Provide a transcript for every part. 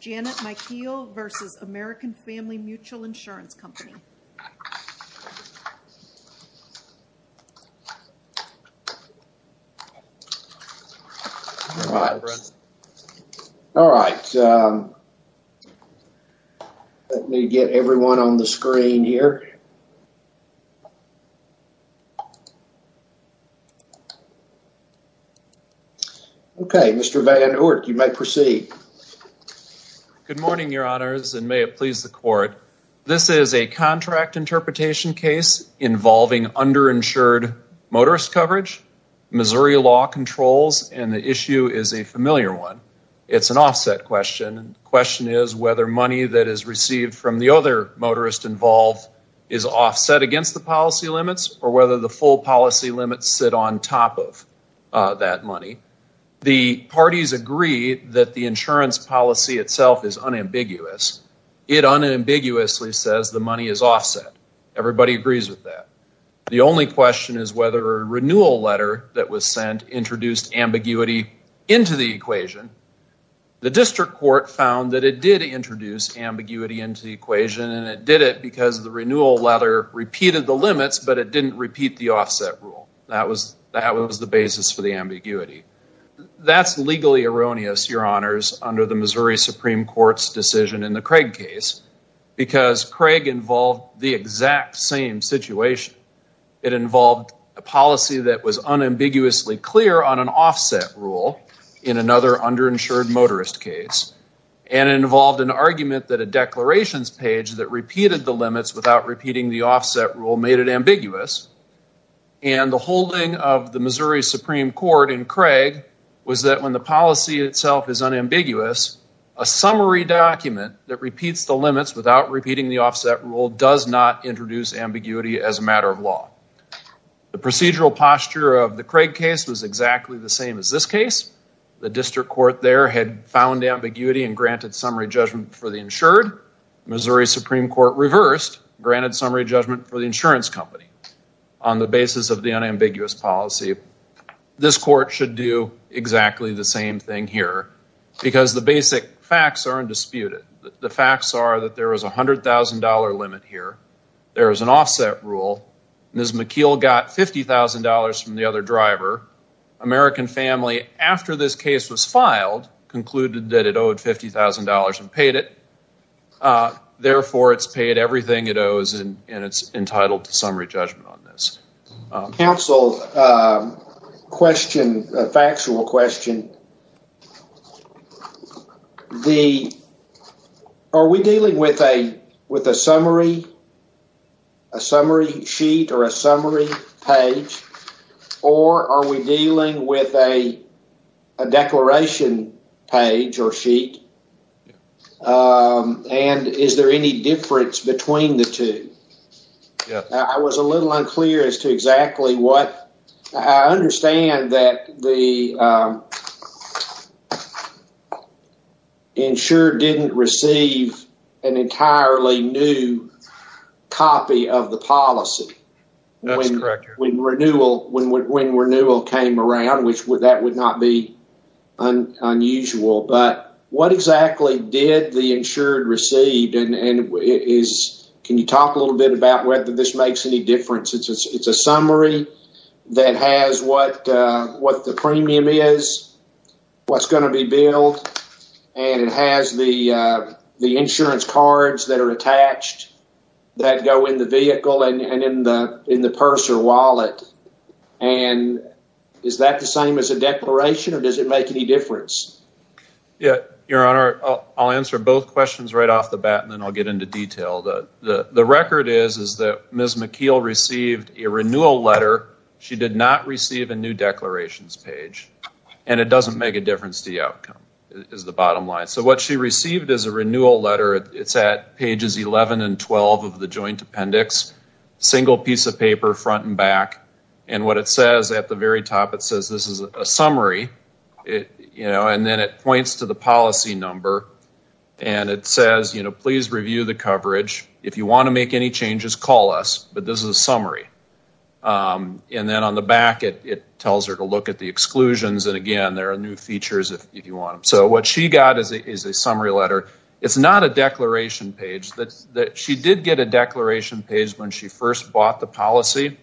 Janet Micheal versus American Family Mutual Insurance Company. All right. All right. Let me get everyone on the screen here. Okay. Mr. Van Oort, you may proceed. Good morning, your honors, and may it please the court. This is a contract interpretation case involving underinsured motorist coverage. Missouri law controls, and the issue is a familiar one. It's an offset question. The question is whether money that is received from the other motorist involved is offset against the policy limits, or whether the full policy limits sit on top of that money. The parties agree that the insurance policy itself is unambiguous. It unambiguously says the money is offset. Everybody agrees with that. The only question is whether a renewal letter that was sent introduced ambiguity into the equation. The district court found that it did introduce ambiguity into the equation, and it did it because the renewal letter repeated the limits, but it didn't repeat the offset rule. That was the basis for the ambiguity. That's legally erroneous, your honors, under the Missouri Supreme Court's decision in the Craig case, because Craig involved the exact same situation. It involved a policy that was unambiguously clear on an offset rule in another underinsured motorist case, and it involved an argument that a declarations page that repeated the limits without repeating the offset rule made it ambiguous, and the holding of the Missouri Supreme Court in Craig was that when the policy itself is unambiguous, a summary document that repeats the limits without repeating the of the Craig case was exactly the same as this case. The district court there had found ambiguity and granted summary judgment for the insured. Missouri Supreme Court reversed, granted summary judgment for the insurance company on the basis of the unambiguous policy. This court should do exactly the same thing here, because the basic facts aren't disputed. The facts are that there is a $100,000 limit here. There is an offset rule. Ms. McKeel got $50,000 from the other driver. American family, after this case was filed, concluded that it owed $50,000 and paid it. Therefore, it's paid everything it owes, and it's entitled to summary judgment on this. Counsel, a factual question. Are we dealing with a summary sheet or a summary page, or are we dealing with a declaration page or sheet, and is there any difference between the two? I was a little unclear as to exactly what. I understand that the insured didn't receive an entirely new copy of the policy when renewal came around, which that would not be unusual, but what exactly did the insured receive, and can you talk a little bit about whether this makes any difference? It's a summary that has what the premium is, what's going to be billed, and it has the insurance cards that are attached that go in the vehicle and in the purse or wallet. Is that the same as a declaration, or does it make any difference? Your Honor, I'll answer both questions right into detail. The record is that Ms. McKeel received a renewal letter. She did not receive a new declarations page, and it doesn't make a difference to the outcome is the bottom line. So what she received is a renewal letter. It's at pages 11 and 12 of the joint appendix, single piece of paper front and back, and what it says at the very top, it says this is a summary, you know, and then it points to the policy number, and it says, you know, please review the coverage. If you want to make any changes, call us, but this is a summary, and then on the back, it tells her to look at the exclusions, and again, there are new features if you want them. So what she got is a summary letter. It's not a declaration page. She did get a declaration page when she first bought the policy.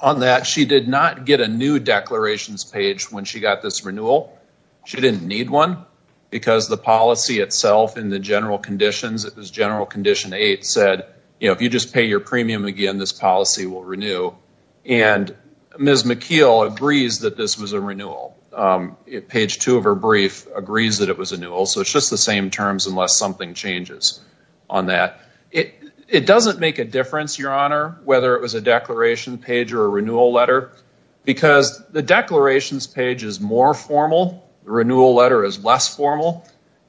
On that, she did not get a new declarations page when she got this renewal. She didn't need one, because the policy itself in the general conditions, it was general condition 8 said, you know, if you just pay your premium again, this policy will renew, and Ms. McKeel agrees that this was a renewal. Page 2 of her brief agrees that it was a renewal, so it's just the same terms unless something changes on that. It doesn't make a difference, your honor, whether it was a declaration page or a renewal letter, because the declarations page is more formal. The renewal letter is less formal,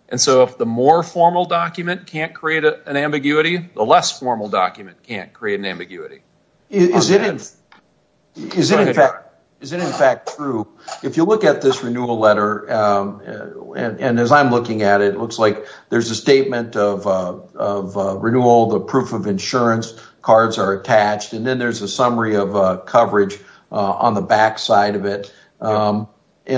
and so if the more formal document can't create an ambiguity, the less formal document can't create an ambiguity. Is it in fact true, if you look at this renewal letter, and as I'm looking at it, it looks like there's a statement of renewal, the proof of insurance cards are attached, and then there's a summary of coverage on the back side of it, and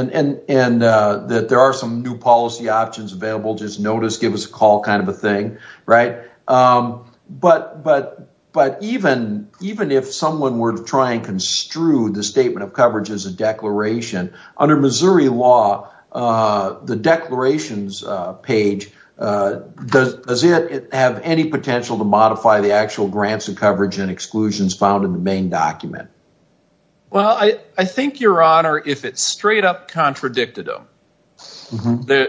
that there are some new policy options available, just notice, give us a call kind of a thing, right? But even if someone were to try and construe the statement of coverage as a declaration, under Missouri law, the declarations page, does it have any potential to modify the actual grants of coverage and exclusions found in the main document? Well, I think, your honor, if it's straight up contradictive,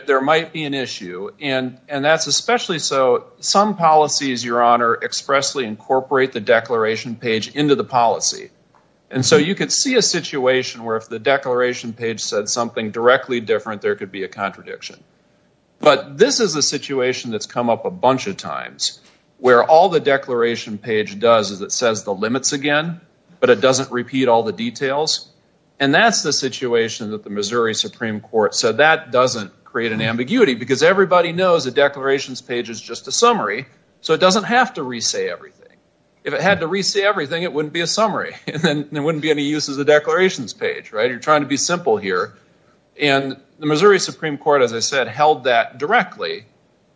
there might be an issue, and that's especially so some policies, your honor, expressly incorporate the declaration page into the policy, and so you could see a situation where if the declaration page said something directly different, there could be a contradiction, but this is a situation that's come up a bunch of times, where all the declaration page does is it says the limits again, but it doesn't repeat all the details, and that's the situation that the Missouri Supreme Court said that doesn't create an ambiguity, because everybody knows the declarations page is just a summary, so it doesn't have to re-say everything. If it had to re-say everything, it wouldn't be a summary, and then there wouldn't be any use of the declarations page, right? You're trying to be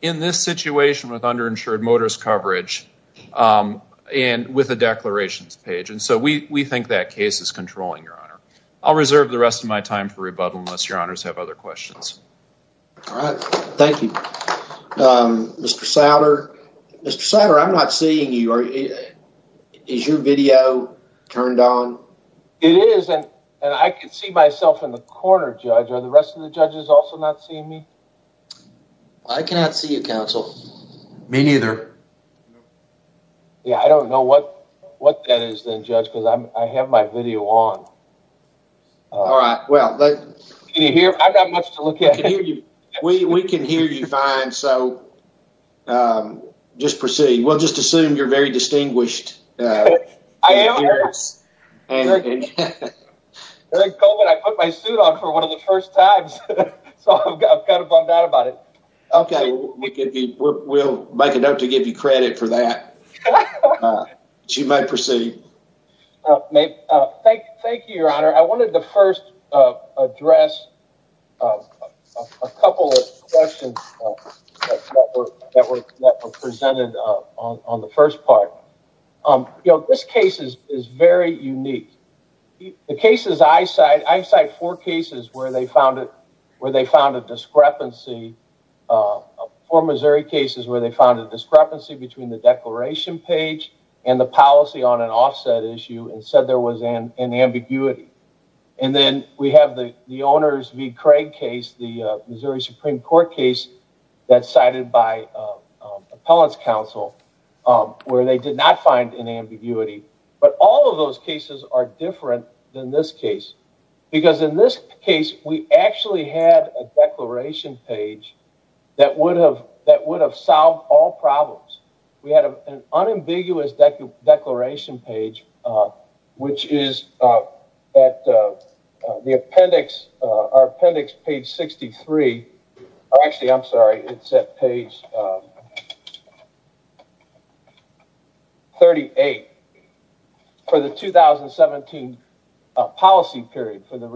in this situation with underinsured motorist coverage and with a declarations page, and so we think that case is controlling, your honor. I'll reserve the rest of my time for rebuttal unless your honors have other questions. All right, thank you. Mr. Sautter, Mr. Sautter, I'm not seeing you. Is your video turned on? It is, and I can see myself in the corner, judge. Are the rest of judges also not seeing me? I cannot see you, counsel. Me neither. Yeah, I don't know what what that is then, judge, because I have my video on. All right, well, can you hear? I've got much to look at. We can hear you fine, so just proceed. We'll just assume you're very distinguished. Eric Colvin, I put my suit on for one of the first times, so I'm kind of bummed out about it. Okay, we'll make it up to give you credit for that. She might proceed. Thank you, your honor. I wanted to first address a couple of questions that were presented on the first part. You know, this case is very unique. The cases I cite, I cite four cases where they found a discrepancy, four Missouri cases where they found a discrepancy between the declaration page and the policy on an offset issue and said there was an ambiguity. And then we have the Craig case, the Missouri Supreme Court case that's cited by appellant's counsel where they did not find an ambiguity. But all of those cases are different than this case. Because in this case, we actually had a declaration page that would have solved all problems. We had an unambiguous declaration page, which is at the appendix, our appendix page 63. Actually, I'm sorry, it's at page 38 for the 2017 policy period for the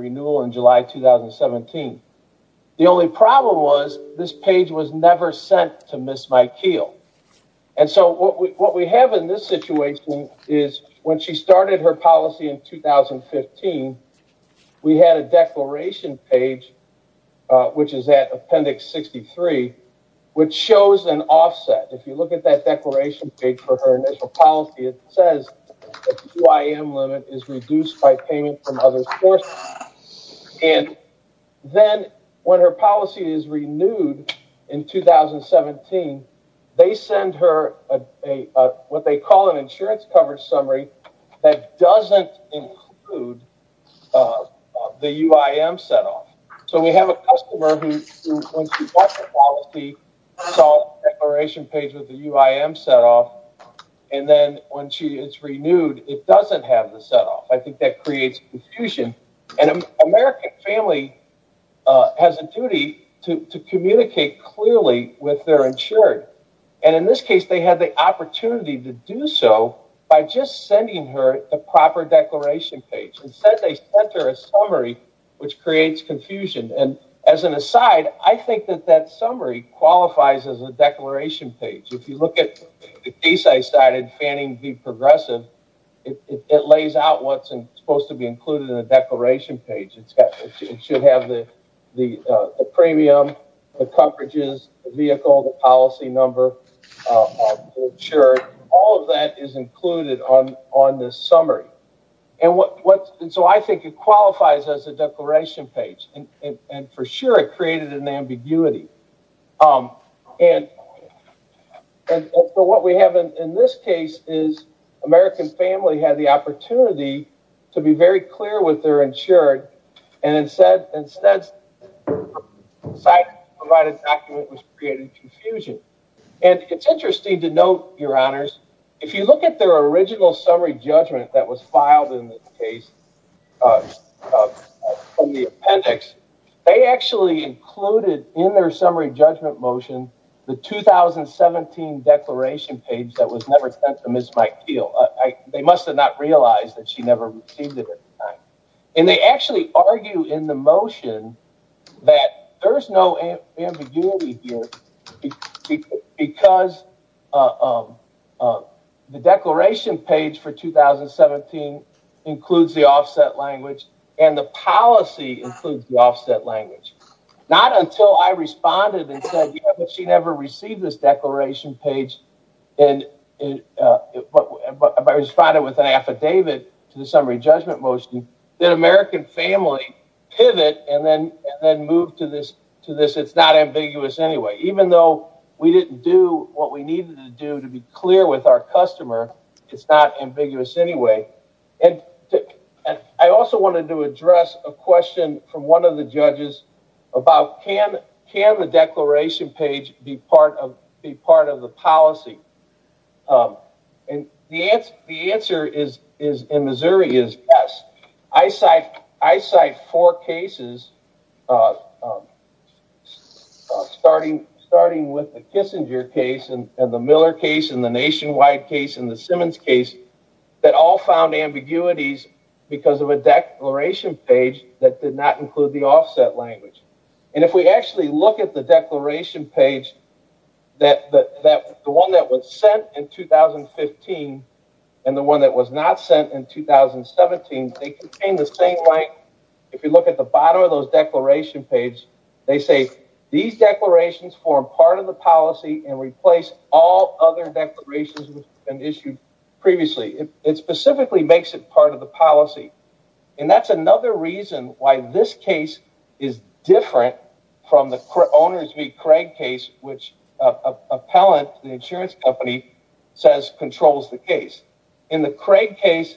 appeal. And so what we have in this situation is when she started her policy in 2015, we had a declaration page, which is at appendix 63, which shows an offset. If you look at that declaration page for her initial policy, it says the QIM limit is reduced by payment from others. And then when her policy is renewed in 2017, they send her what they call an insurance coverage summary that doesn't include the UIM set off. So we have a customer who when she got the policy, saw the declaration page with the UIM set off, and then when she is renewed, it doesn't have the set off. I think that creates confusion. And an American family has a duty to communicate clearly with their insured. And in this case, they had the opportunity to do so by just sending her a proper declaration page. Instead, they sent her a summary, which creates confusion. And as an aside, I think that that summary qualifies as a declaration page. If you look at the Fanning v. Progressive, it lays out what is supposed to be included in the declaration page. It should have the premium, the coverages, the vehicle, the policy number, all of that is included on this summary. And so I think it qualifies as a declaration page. And for sure, it created an ambiguity. And so what we have in this case is American family had the opportunity to be very clear with their insured, and instead provided a document which created confusion. And it's interesting to note, Your Honors, if you look at their original summary judgment that was filed in this case from the appendix, they actually included in their summary judgment motion the 2017 declaration page that was never sent to Ms. Mike Keel. They must have not realized that she never received it at the time. And they actually argue in the motion that there's no ambiguity here because the declaration page for 2017 includes the offset language, and the policy includes the offset language. Not until I responded and said, yeah, but she never received this declaration page, and I responded with an affidavit to the summary judgment motion, did American family pivot and then move to this, it's not ambiguous anyway. Even though we didn't do what we needed to do to be clear with our customer, it's not ambiguous anyway. I also wanted to address a question from one of the judges about can the declaration page be part of the policy? The answer in Missouri is yes. I cite four cases starting with the Kissinger case and the Miller case and the nationwide case and the Simmons case that all found ambiguities because of a declaration page that did not include the offset language. And if we actually look at the declaration page, the one that was sent in 2015 and the one that was not sent in 2017, they contain the same language. If you look at the bottom of the declaration page, they say these declarations form part of the policy and replace all other declarations that have been issued previously. It specifically makes it part of the policy. And that's another reason why this case is different from the owners meet Craig case, which appellant, the insurance company, says controls the case. In the Craig case,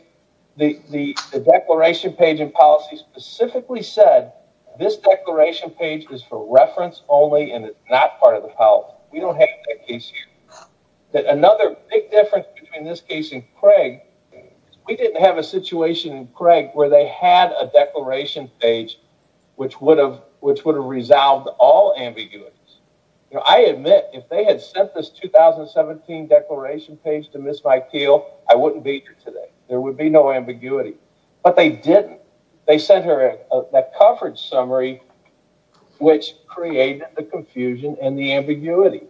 the declaration page and policy specifically said this declaration page is for reference only and it's not part of the policy. We don't have that case here. Another big difference between this case and Craig, we didn't have a situation in which they had a declaration page which would have resolved all ambiguities. I admit, if they had sent this 2017 declaration page to Ms. McKeel, I wouldn't be here today. There would be no ambiguity. But they didn't. They sent her a coverage summary which created the confusion and the ambiguity.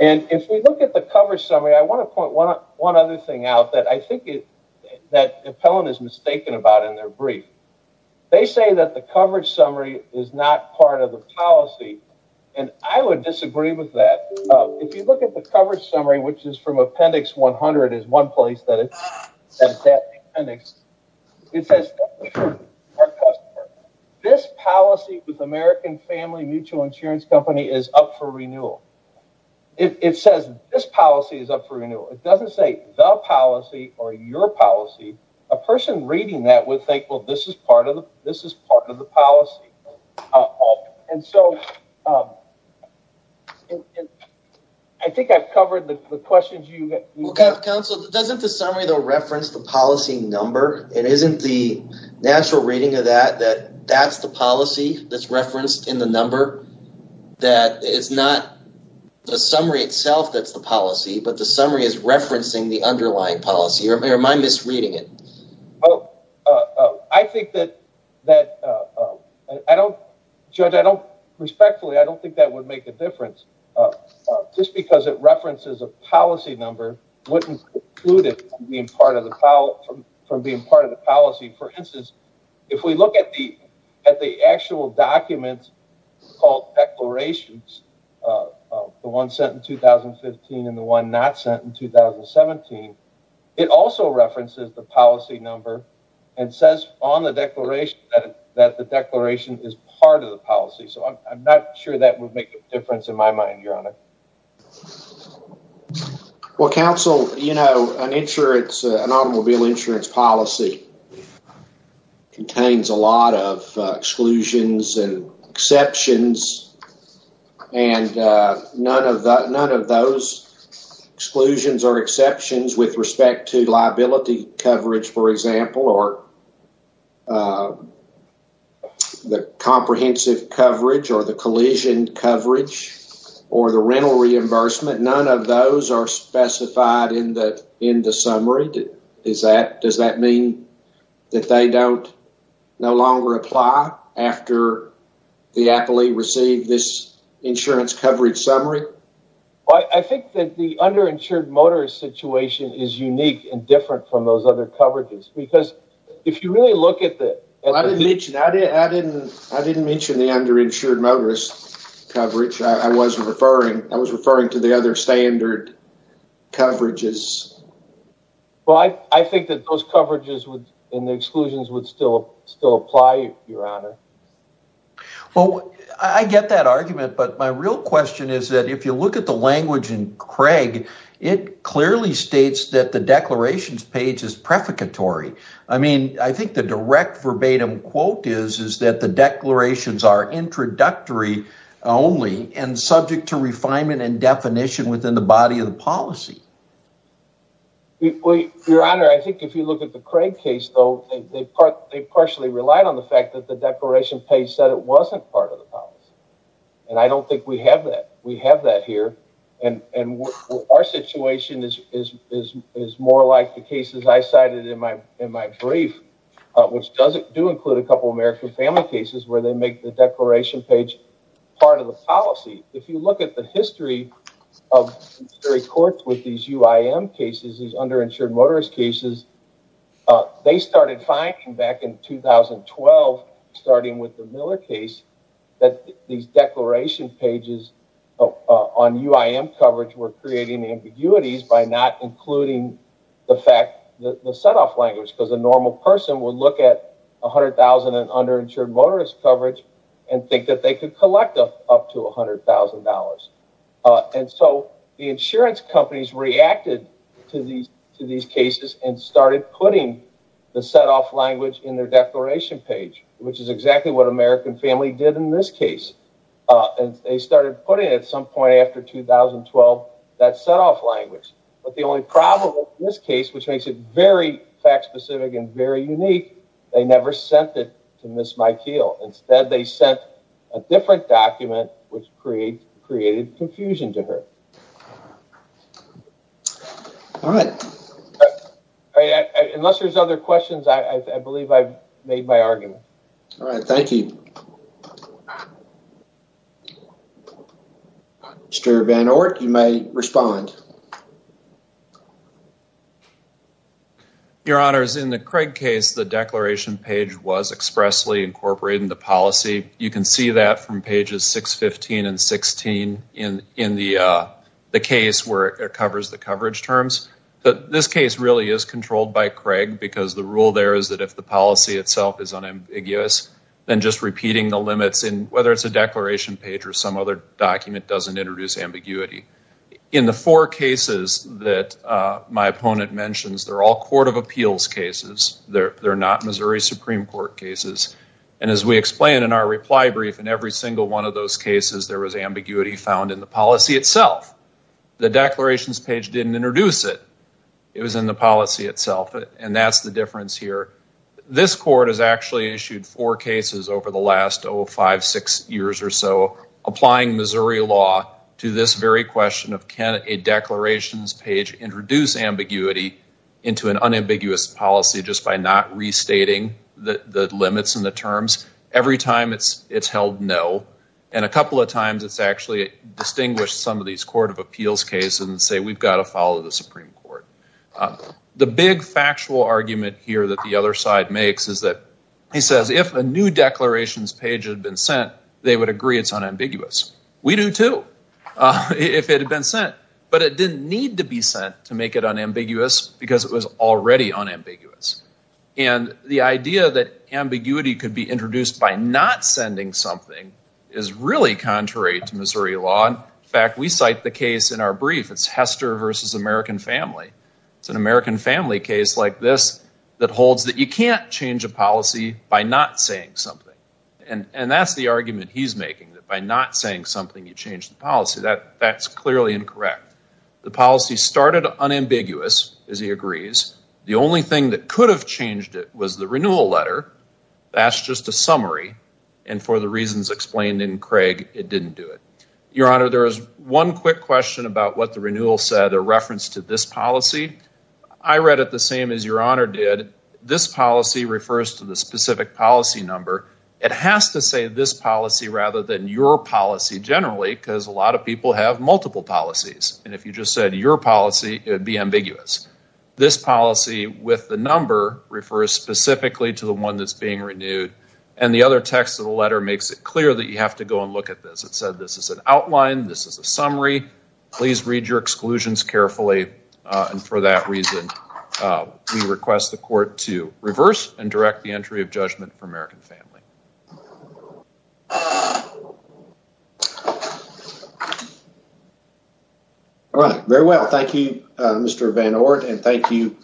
And if we look at the coverage summary, I want to point one other thing out that I think that appellant is mistaken about in their brief. They say that the coverage summary is not part of the policy. And I would disagree with that. If you look at the coverage summary, which is from appendix 100 is one place that it's at. It says this policy with American family mutual insurance company is up for renewal. It says this policy is up for renewal. It doesn't say the policy or your policy. A person reading that would think, well, this is part of the policy. And so, I think I've covered the questions. Well, Council, doesn't the summary reference the policy number? It isn't the natural reading of that, that that's the policy that's referenced in the number? That it's not the summary itself that's the policy, but the summary is referencing the underlying policy? Or am I misreading it? Oh, I think that that I don't, Judge, I don't, respectfully, I don't think that would make a difference. Just because it references a policy number wouldn't exclude it from being part of the policy. For instance, if we look at the actual document called declarations, the one sent in 2015 and the one not sent in 2017, it also references the policy number and says on the declaration that the declaration is part of the policy. So, I'm not sure that would make a difference in my mind, Your Honor. Well, Council, you know, an insurance, an automobile insurance policy contains a lot of exclusions and exceptions, and none of that, none of those exclusions or exceptions with respect to liability coverage, for example, or the comprehensive coverage or the collision coverage or the rental reimbursement, none of those are specified in the summary. Does that mean that they don't, no longer apply after the appellee received this insurance coverage summary? Well, I think that the underinsured motorist situation is unique and different from those other coverages because if you really look at the… Well, I didn't mention the underinsured motorist coverage. I was referring to the other standard coverages. Well, I think that those coverages and the exclusions would still apply, Your Honor. Well, I get that argument, but my real question is that if you look at the language in Craig, it clearly states that the declarations page is prefacatory. I mean, I think the direct quote is that the declarations are introductory only and subject to refinement and definition within the body of the policy. Your Honor, I think if you look at the Craig case, though, they partially relied on the fact that the declaration page said it wasn't part of the policy, and I don't think we have that. We have that here, and our situation is more like the do include a couple of American family cases where they make the declaration page part of the policy. If you look at the history of the courts with these UIM cases, these underinsured motorist cases, they started finding back in 2012, starting with the Miller case, that these declaration pages on UIM coverage were creating ambiguities by not including the fact that the $100,000 in underinsured motorist coverage and think that they could collect up to $100,000. And so the insurance companies reacted to these cases and started putting the setoff language in their declaration page, which is exactly what American family did in this case. And they started putting at some point after 2012 that setoff language. But the only problem with this case, which makes it very fact specific and very unique, they never sent it to Ms. McKeel. Instead, they sent a different document, which created confusion to her. All right. Unless there's other questions, I believe I've made my argument. All right. Thank you. Mr. Van Oort, you may respond. Your honors, in the Craig case, the declaration page was expressly incorporated in the policy. You can see that from pages 615 and 16 in the case where it covers the coverage terms. But this case really is controlled by Craig because the rule there is that if the policy itself is unambiguous, then just repeating the limits, whether it's a declaration page or some document doesn't introduce ambiguity. In the four cases that my opponent mentions, they're all court of appeals cases. They're not Missouri Supreme Court cases. And as we explained in our reply brief, in every single one of those cases, there was ambiguity found in the policy itself. The declarations page didn't introduce it. It was in the policy itself. And that's the difference here. This court has actually issued four cases over the last five, six years or so, applying Missouri law to this very question of can a declarations page introduce ambiguity into an unambiguous policy just by not restating the limits and the terms. Every time it's held no. And a couple of times it's actually distinguished some of these court of appeals cases and say we've got to follow the Supreme Court. The big factual argument here that the other side makes is that he says if a new declarations page had been sent, they would agree it's unambiguous. We do too. If it had been sent. But it didn't need to be sent to make it unambiguous because it was already unambiguous. And the idea that ambiguity could be introduced by not sending something is really contrary to Missouri law. In fact, we cite the case in our brief. It's Hester versus American family. It's an American family case like this that holds that you can't change a policy by not saying something. And that's the argument he's making. That by not saying something, you change the policy. That's clearly incorrect. The policy started unambiguous, as he agrees. The only thing that could have changed it was the renewal letter. That's just a summary. And for the reasons explained in Craig, it didn't do it. Your Honor, there was one quick question about what the renewal said, a reference to this policy. I read it the same as Your Honor did. This policy refers to the specific policy number. It has to say this policy rather than your policy generally, because a lot of people have multiple policies. And if you just said your policy, it would be ambiguous. This policy with the number refers specifically to the one that's being renewed. And the other text of the letter makes it clear that you have to go and look at this. This is an outline. This is a summary. Please read your exclusions carefully. And for that reason, we request the court to reverse and direct the entry of judgment for American Family. All right. Very well. Thank you, Mr. Van Oort. And thank you,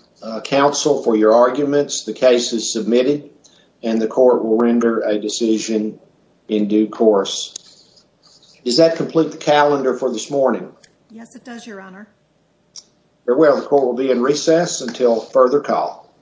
counsel, for your arguments. The case is submitted and the court will render a decision in due course. Does that complete the calendar for this morning? Yes, it does, Your Honor. Very well. The court will be in recess until further call.